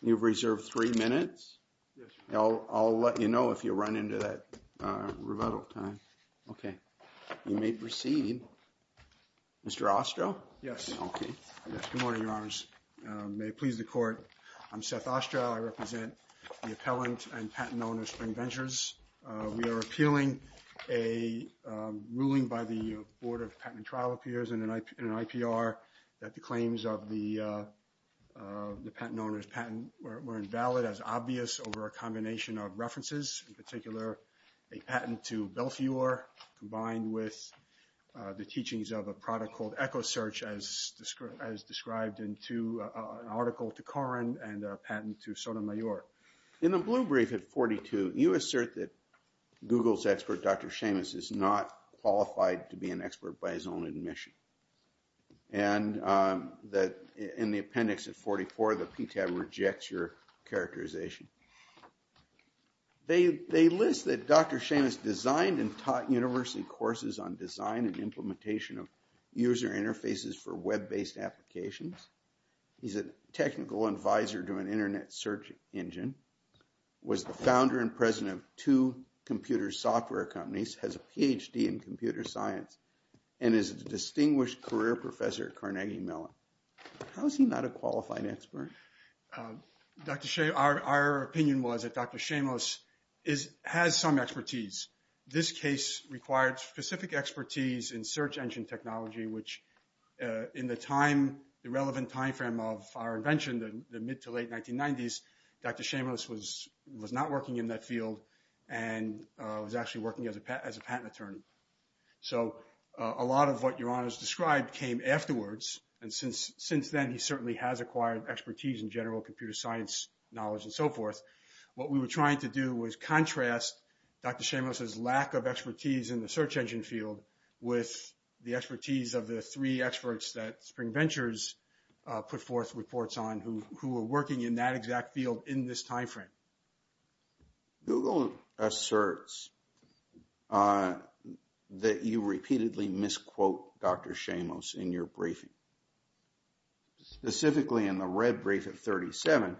You've reserved three minutes. I'll let you know if you run into that rebuttal time. Okay. You may proceed. Mr. Ostro? Okay. Good morning, Your Honors. May it please the Court, I'm Seth Ostro. I represent the appellant and patent owner, Spring Ventures. We are appealing a ruling by the Board of Patent and Trial Appeals in an IPR that the claims of the patent owner's patent were invalid as obvious over a combination of references, in particular a patent to Belfiore combined with the teachings of a product called EchoSearch as described in an article to Corrin and a patent to Sotomayor. In the blue brief at 42, you assert that Google's expert, Dr. Seamus, is not qualified to be an expert by his own admission. And in the appendix at 44, the PTAB rejects your characterization. They list that Dr. Seamus designed and taught university courses on design and implementation of user interfaces for web-based applications. He's a technical advisor to an internet search engine, was the founder and president of two computer software companies, has a PhD in computer science, and is a distinguished career professor at Carnegie Mellon. How is he not a qualified expert? Dr. Seamus, our opinion was that Dr. Seamus has some expertise. This case required specific expertise in search engine technology, which in the time, the relevant time frame of our invention, the mid to late 1990s, Dr. Seamus was not working in that field and was actually working as a patent attorney. So a lot of what Your Honor's described came afterwards, and since then he certainly has acquired expertise in general computer science knowledge and so forth. What we were trying to do was contrast Dr. Seamus' lack of expertise in the search engine field with the expertise of the three experts that Spring Ventures put forth reports on who were working in that exact field in this time frame. Google asserts that you repeatedly misquote Dr. Seamus in your briefing. Specifically in the red brief at 37,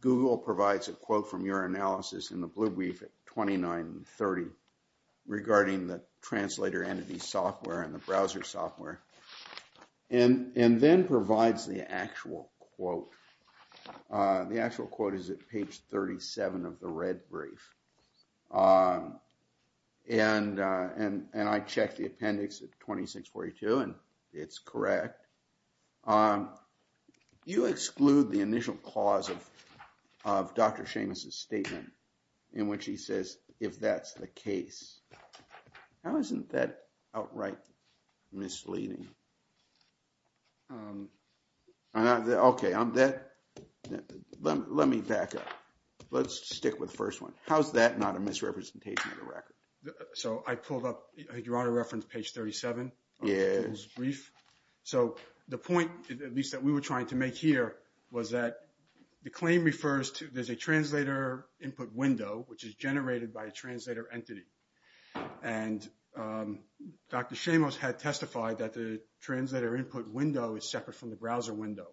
Google provides a quote from your analysis in the blue brief at 29 and 30 regarding the translator entity software and the browser software and then provides the actual quote. The actual quote is at page 37 of the red brief, and I checked the appendix at 2642, and it's correct. You exclude the initial clause of Dr. Seamus' statement in which he says, if that's the case. How isn't that outright misleading? Okay, let me back up. Let's stick with the first one. How is that not a misrepresentation of the record? So I pulled up, Your Honor referenced page 37 of Google's brief. So the point, at least that we were trying to make here, was that the claim refers to there's a translator input window, which is generated by a translator entity. And Dr. Seamus had testified that the translator input window is separate from the browser window.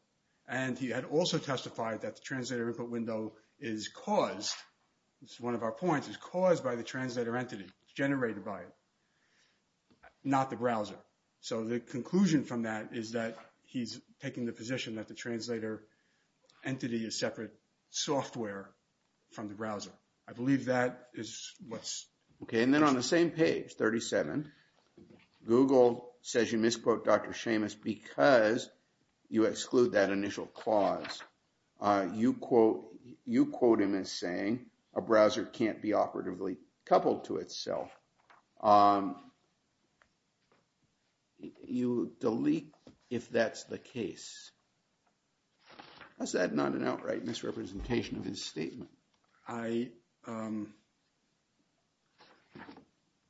And he had also testified that the translator input window is caused, this is one of our points, is caused by the translator entity. It's generated by it, not the browser. So the conclusion from that is that he's taking the position that the translator entity is separate software from the browser. I believe that is what's. Okay. And then on the same page, 37, Google says you misquote Dr. Seamus because you exclude that initial clause. You quote him as saying a browser can't be operatively coupled to itself. You delete if that's the case. Is that not an outright misrepresentation of his statement? I,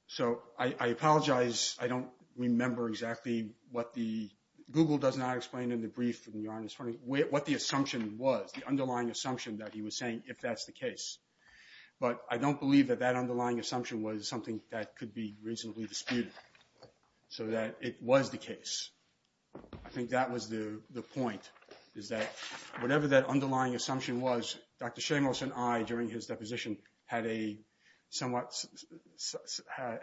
so I apologize. I don't remember exactly what the, Google does not explain in the brief, Your Honor, what the assumption was, the underlying assumption that he was saying, if that's the case. But I don't believe that that underlying assumption was something that could be reasonably disputed, so that it was the case. I think that was the point, is that whatever that underlying assumption was, Dr. Seamus and I, during his deposition, had a somewhat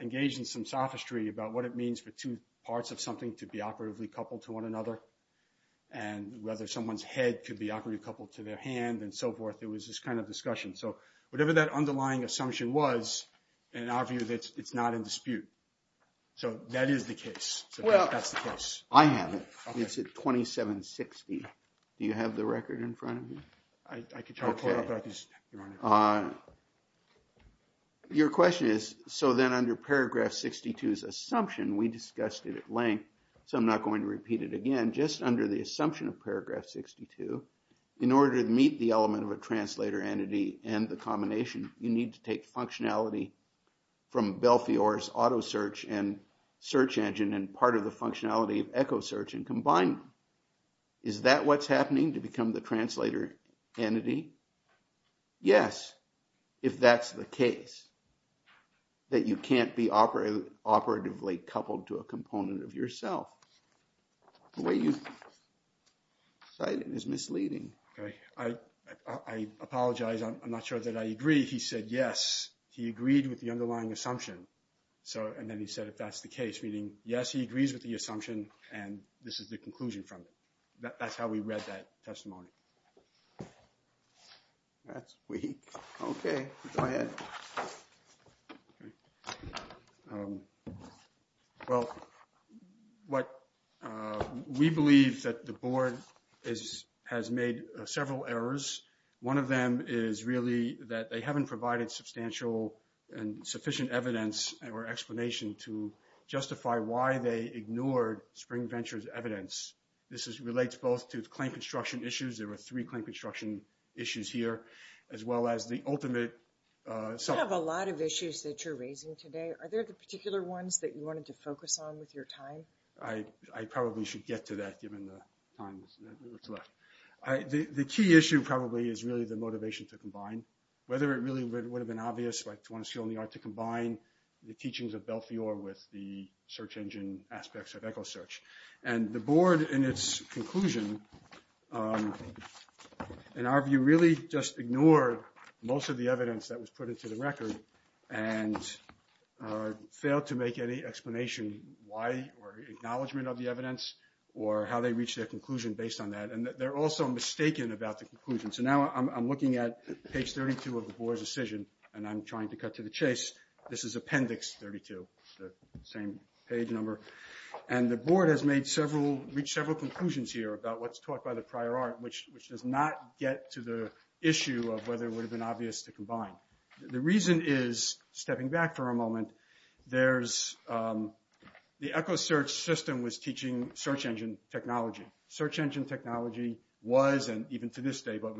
engaged in some sophistry about what it means for two parts of something to be operatively coupled to one another, and whether someone's head could be operatively coupled to their hand and so forth. It was this kind of discussion. So whatever that underlying assumption was, in our view it's not in dispute. So that is the case. Well, I have it. It's at 2760. Do you have the record in front of you? I could try to pull it up. I just, Your Honor. Your question is, so then under paragraph 62's assumption, we discussed it at length, so I'm not going to repeat it again. Just under the assumption of paragraph 62, in order to meet the element of a translator entity and the combination, you need to take functionality from Belfiore's auto search and search engine and part of the functionality of echo search and combine them. Is that what's happening to become the translator entity? Yes, if that's the case. That you can't be operatively coupled to a component of yourself. The way you cite it is misleading. Okay. I apologize. I'm not sure that I agree. He said yes. He agreed with the underlying assumption. And then he said if that's the case, meaning yes, he agrees with the assumption and this is the conclusion from it. That's how we read that testimony. That's weak. Okay. Go ahead. Well, we believe that the board has made several errors. One of them is really that they haven't provided substantial and sufficient evidence or explanation to justify why they ignored Spring Venture's evidence. This relates both to claim construction issues. There were three claim construction issues here, as well as the ultimate. You have a lot of issues that you're raising today. Are there the particular ones that you wanted to focus on with your time? I probably should get to that given the time that's left. The key issue probably is really the motivation to combine. Whether it really would have been obvious to combine the teachings of Belfiore with the search engine aspects of EchoSearch. And the board in its conclusion, in our view, really just ignored most of the evidence that was put into the record and failed to make any explanation why or acknowledgement of the evidence or how they reached their conclusion based on that. And they're also mistaken about the conclusion. So now I'm looking at page 32 of the board's decision, and I'm trying to cut to the chase. This is appendix 32, the same page number. And the board has reached several conclusions here about what's taught by the prior art, which does not get to the issue of whether it would have been obvious to combine. The reason is, stepping back for a moment, the EchoSearch system was teaching search engine technology. Search engine technology was, and even to this day, but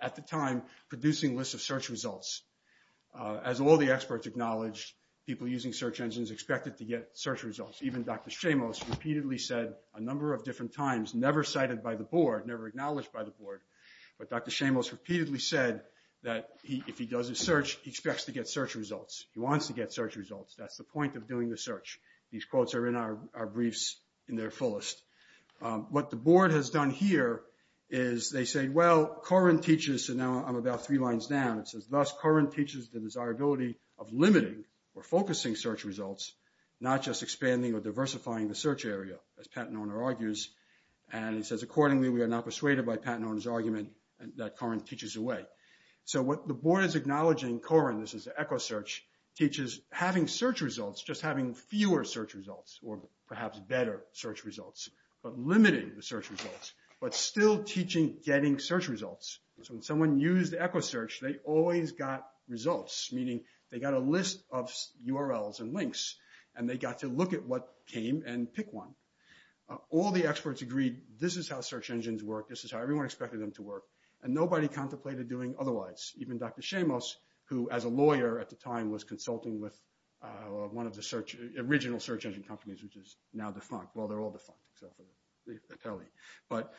at the time, producing lists of search results. As all the experts acknowledged, people using search engines expected to get search results. Even Dr. Shamos repeatedly said a number of different times, never cited by the board, never acknowledged by the board, but Dr. Shamos repeatedly said that if he does a search, he expects to get search results. He wants to get search results. That's the point of doing the search. These quotes are in our briefs in their fullest. What the board has done here is they say, well, Corrin teaches, so now I'm about three lines down. It says, thus, Corrin teaches the desirability of limiting or focusing search results, not just expanding or diversifying the search area, as Pat Noerner argues. And he says, accordingly, we are not persuaded by Pat Noerner's argument that Corrin teaches away. So what the board is acknowledging, Corrin, this is EchoSearch, teaches having search results, just having fewer search results, or perhaps better search results, but limiting the search results, but still teaching getting search results. So when someone used EchoSearch, they always got results, meaning they got a list of URLs and links. And they got to look at what came and pick one. All the experts agreed, this is how search engines work. This is how everyone expected them to work. And nobody contemplated doing otherwise. Even Dr. Shamos, who as a lawyer at the time was consulting with one of the search, original search engine companies, which is now defunct. Well, they're all defunct except for the tele. But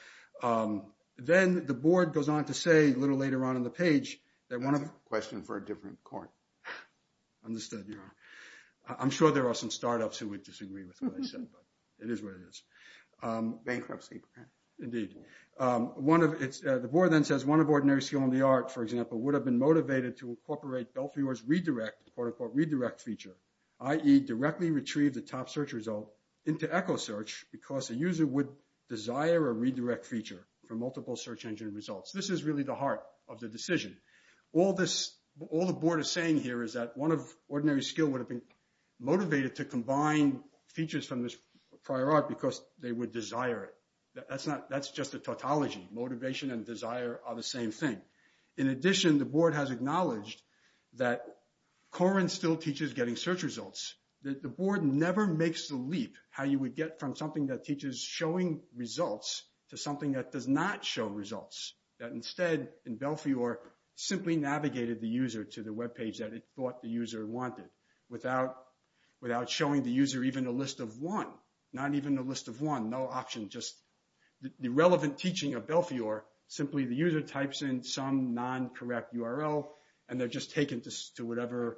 then the board goes on to say, a little later on in the page, that one of the – question for a different Corrin. Understood, Your Honor. I'm sure there are some startups who would disagree with what I said, but it is what it is. Bankruptcy. Indeed. The board then says, one of ordinary skill in the art, for example, would have been motivated to incorporate Belfiore's redirect feature, i.e. directly retrieve the top search result into EchoSearch because the user would desire a redirect feature for multiple search engine results. This is really the heart of the decision. All the board is saying here is that one of ordinary skill would have been motivated to combine features from this prior art because they would desire it. That's not – that's just a tautology. Motivation and desire are the same thing. In addition, the board has acknowledged that Corrin still teaches getting search results. The board never makes the leap how you would get from something that teaches showing results to something that does not show results, that instead, in Belfiore, simply navigated the user to the webpage that it thought the user wanted without showing the user even a list of one, not even a list of one, no option, just the relevant teaching of Belfiore, simply the user types in some non-correct URL, and they're just taken to whatever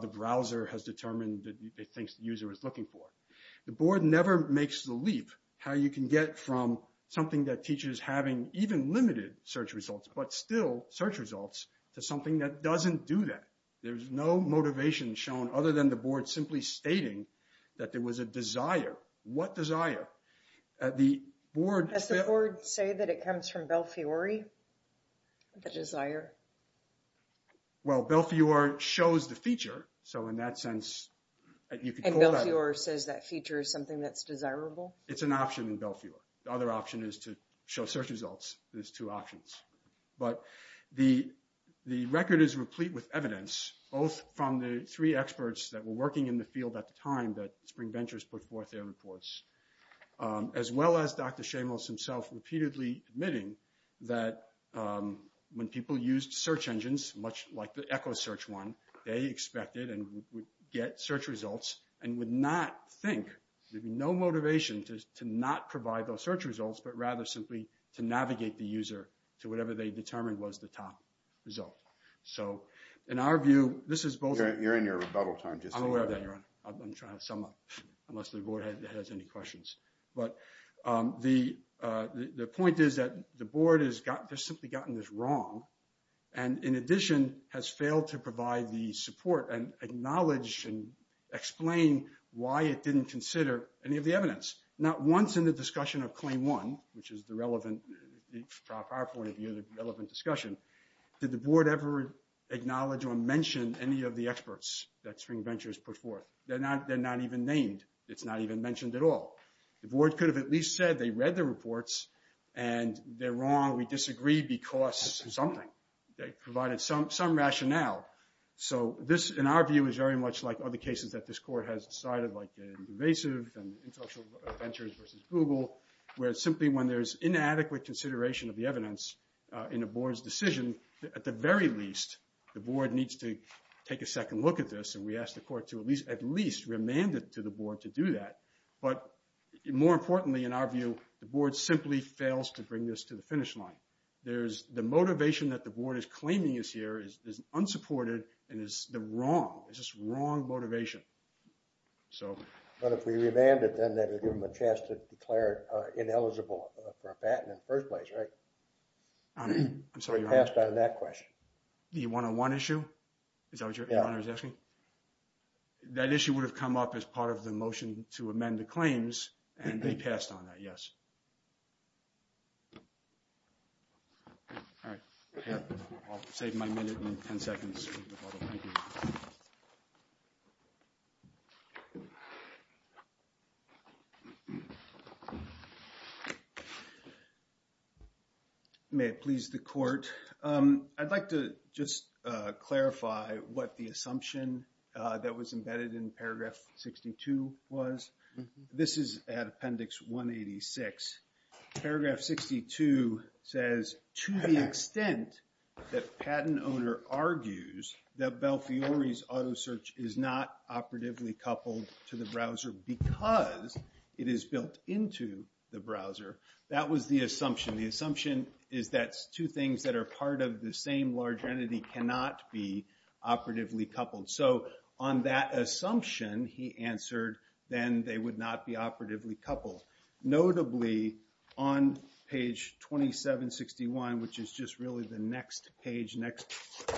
the browser has determined that it thinks the user is looking for. The board never makes the leap how you can get from something that teaches having even limited search results, but still search results, to something that doesn't do that. There's no motivation shown other than the board simply stating that there was a desire. What desire? The board... Does the board say that it comes from Belfiore? The desire? Well, Belfiore shows the feature, so in that sense... And Belfiore says that feature is something that's desirable? It's an option in Belfiore. The other option is to show search results. There's two options. But the record is replete with evidence, both from the three experts that were working in the field at the time that Spring Ventures put forth their reports, as well as Dr. Shamos himself repeatedly admitting that when people used search engines, much like the Echo search one, they expected and would get search results and would not think, there'd be no motivation to not provide those search results, but rather simply to navigate the user to whatever they determined was the top result. So, in our view, this is both... You're in your rebuttal time. I'm aware of that, Your Honor. I'm trying to sum up, unless the board has any questions. But the point is that the board has simply gotten this wrong, and in addition has failed to provide the support and acknowledge and explain why it didn't consider any of the evidence. Not once in the discussion of Claim 1, which is the relevant PowerPoint of the relevant discussion, did the board ever acknowledge or mention any of the experts that Spring Ventures put forth. They're not even named. It's not even mentioned at all. The board could have at least said they read the reports, and they're wrong, we disagree because something. They provided some rationale. So this, in our view, is very much like other cases that this court has decided, like Invasive and Intellectual Ventures versus Google, where simply when there's inadequate consideration of the evidence in a board's decision, at the very least, the board needs to take a second look at this, and we ask the court to at least remand it to the board to do that. But more importantly, in our view, the board simply fails to bring this to the finish line. The motivation that the board is claiming is here is unsupported and is wrong. It's just wrong motivation. But if we remand it, then that would give them a chance to declare it ineligible for a patent in the first place, right? I'm sorry, Your Honor. We passed on that question. The one-on-one issue? Is that what Your Honor is asking? Yeah. That issue would have come up as part of the motion to amend the claims, and they passed on that, yes. All right. I'll save my minute and ten seconds. Thank you. May it please the court. I'd like to just clarify what the assumption that was embedded in Paragraph 62 was. This is at Appendix 186. Paragraph 62 says, to the extent that patent owner argues that Belfiore's auto search is not operatively coupled to the browser because it is built into the browser, that was the assumption. The assumption is that two things that are part of the same large entity cannot be operatively coupled. So on that assumption, he answered, then they would not be operatively coupled. Notably, on page 2761, which is just really the next page, next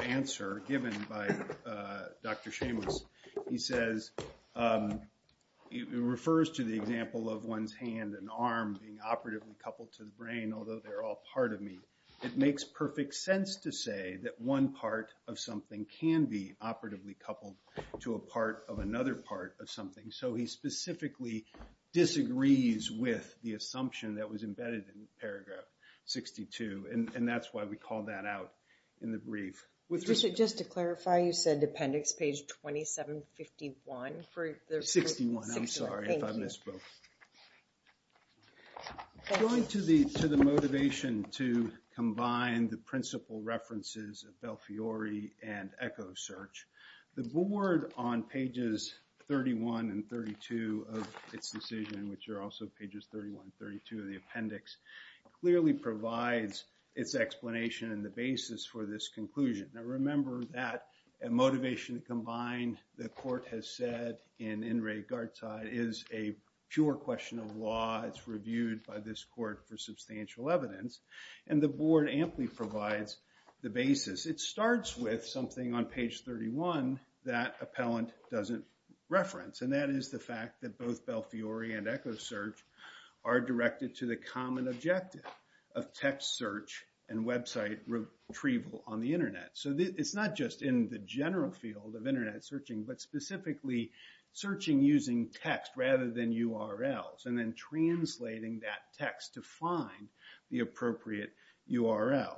answer given by Dr. Seamus, he says, it refers to the example of one's hand and arm being operatively coupled to the brain, although they're all part of me. It makes perfect sense to say that one part of something can be operatively coupled to a part of another part of something. So he specifically disagrees with the assumption that was embedded in Paragraph 62, and that's why we call that out in the brief. Just to clarify, you said Appendix page 2751? 61, I'm sorry if I misspoke. Going to the motivation to combine the principal references of Belfiore and EchoSearch, the board on pages 31 and 32 of its decision, which are also pages 31 and 32 of the appendix, clearly provides its explanation and the basis for this conclusion. Now remember that a motivation to combine, the court has said in In Re Garta, is a pure question of law. It's reviewed by this court for substantial evidence, and the board amply provides the basis. It starts with something on page 31 that Appellant doesn't reference, and that is the fact that both Belfiore and EchoSearch are directed to the common objective of text search and website retrieval on the internet. So it's not just in the general field of internet searching, but specifically searching using text rather than URLs, and then translating that text to find the appropriate URL.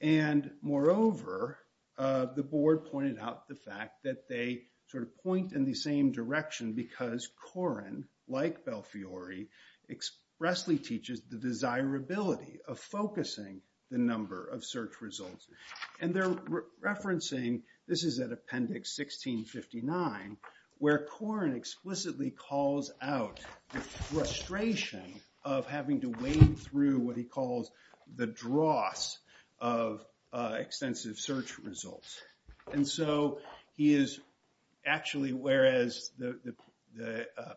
And moreover, the board pointed out the fact that they sort of point in the same direction, because Koren, like Belfiore, expressly teaches the desirability of focusing the number of search results. And they're referencing, this is at Appendix 1659, where Koren explicitly calls out the frustration of having to wade through what he calls the dross of extensive search results. And so he is actually, whereas the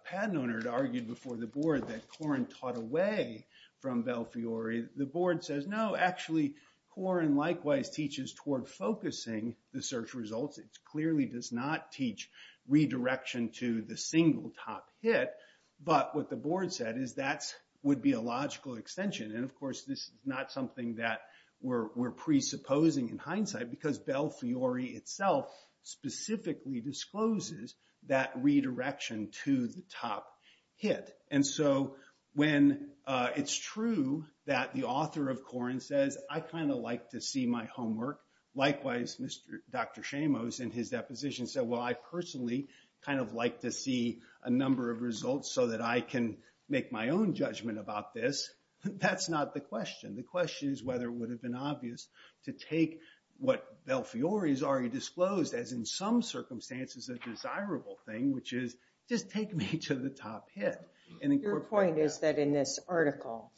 patent owner had argued before the board that Koren taught away from Belfiore, the board says, no, actually, Koren likewise teaches toward focusing the search results. It clearly does not teach redirection to the single top hit. But what the board said is that would be a logical extension. And of course, this is not something that we're presupposing in hindsight, because Belfiore itself specifically discloses that redirection to the top hit. And so when it's true that the author of Koren says, I kind of like to see my homework, likewise, Dr. Shamos in his deposition said, well, I personally kind of like to see a number of results so that I can make my own judgment about this. That's not the question. The question is whether it would have been obvious to take what Belfiore has already disclosed, as in some circumstances a desirable thing, which is just take me to the top hit. Your point is that in this article,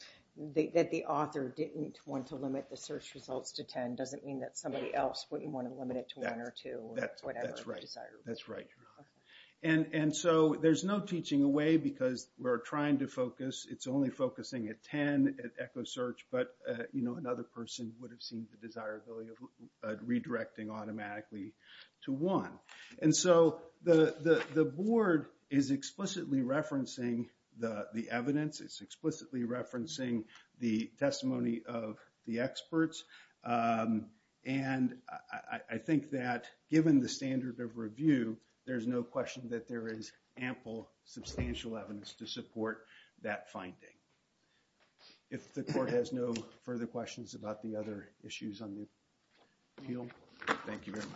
that the author didn't want to limit the search results to 10 doesn't mean that somebody else wouldn't want to limit it to one or two. That's right. And so there's no teaching away because we're trying to focus. It's only focusing at 10 at EchoSearch. But, you know, another person would have seen the desirability of redirecting automatically to one. And so the board is explicitly referencing the evidence. It's explicitly referencing the testimony of the experts. And I think that given the standard of review, there's no question that there is ample, substantial evidence to support that finding. If the court has no further questions about the other issues on the appeal. Thank you very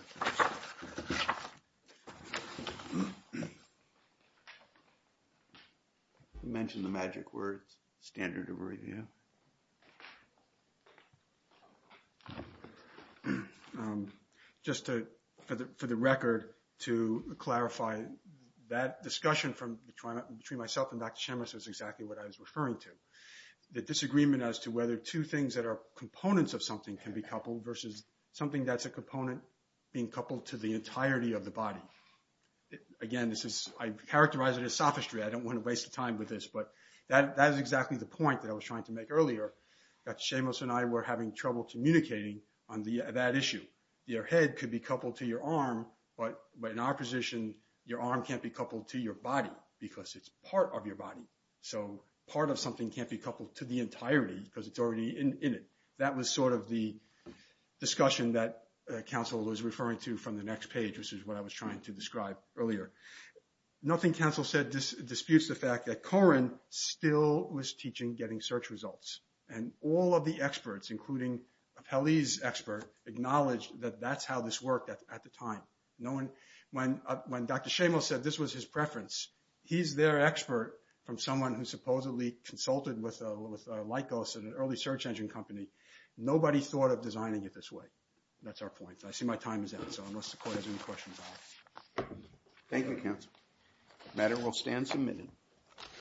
much. You mentioned the magic words, standard of review. Just for the record, to clarify, that discussion between myself and Dr. Chemist is exactly what I was referring to. The disagreement as to whether two things that are components of something can be coupled versus something that's a component being coupled to the entirety of the body. Again, I characterize it as sophistry. I don't want to waste time with this, but that is exactly the point that I was trying to make earlier. Dr. Chemist and I were having trouble communicating on that issue. Your head could be coupled to your arm, but in our position, your arm can't be coupled to your body because it's part of your body. So part of something can't be coupled to the entirety because it's already in it. That was sort of the discussion that counsel was referring to from the next page, which is what I was trying to describe earlier. Nothing counsel said disputes the fact that Corrin still was teaching getting search results. And all of the experts, including Apelli's expert, acknowledged that that's how this worked at the time. When Dr. Shamos said this was his preference, he's their expert from someone who supposedly consulted with Lycos, an early search engine company. Nobody thought of designing it this way. That's our point. I see my time is up, so unless the court has any questions. Thank you, counsel. The matter will stand submitted.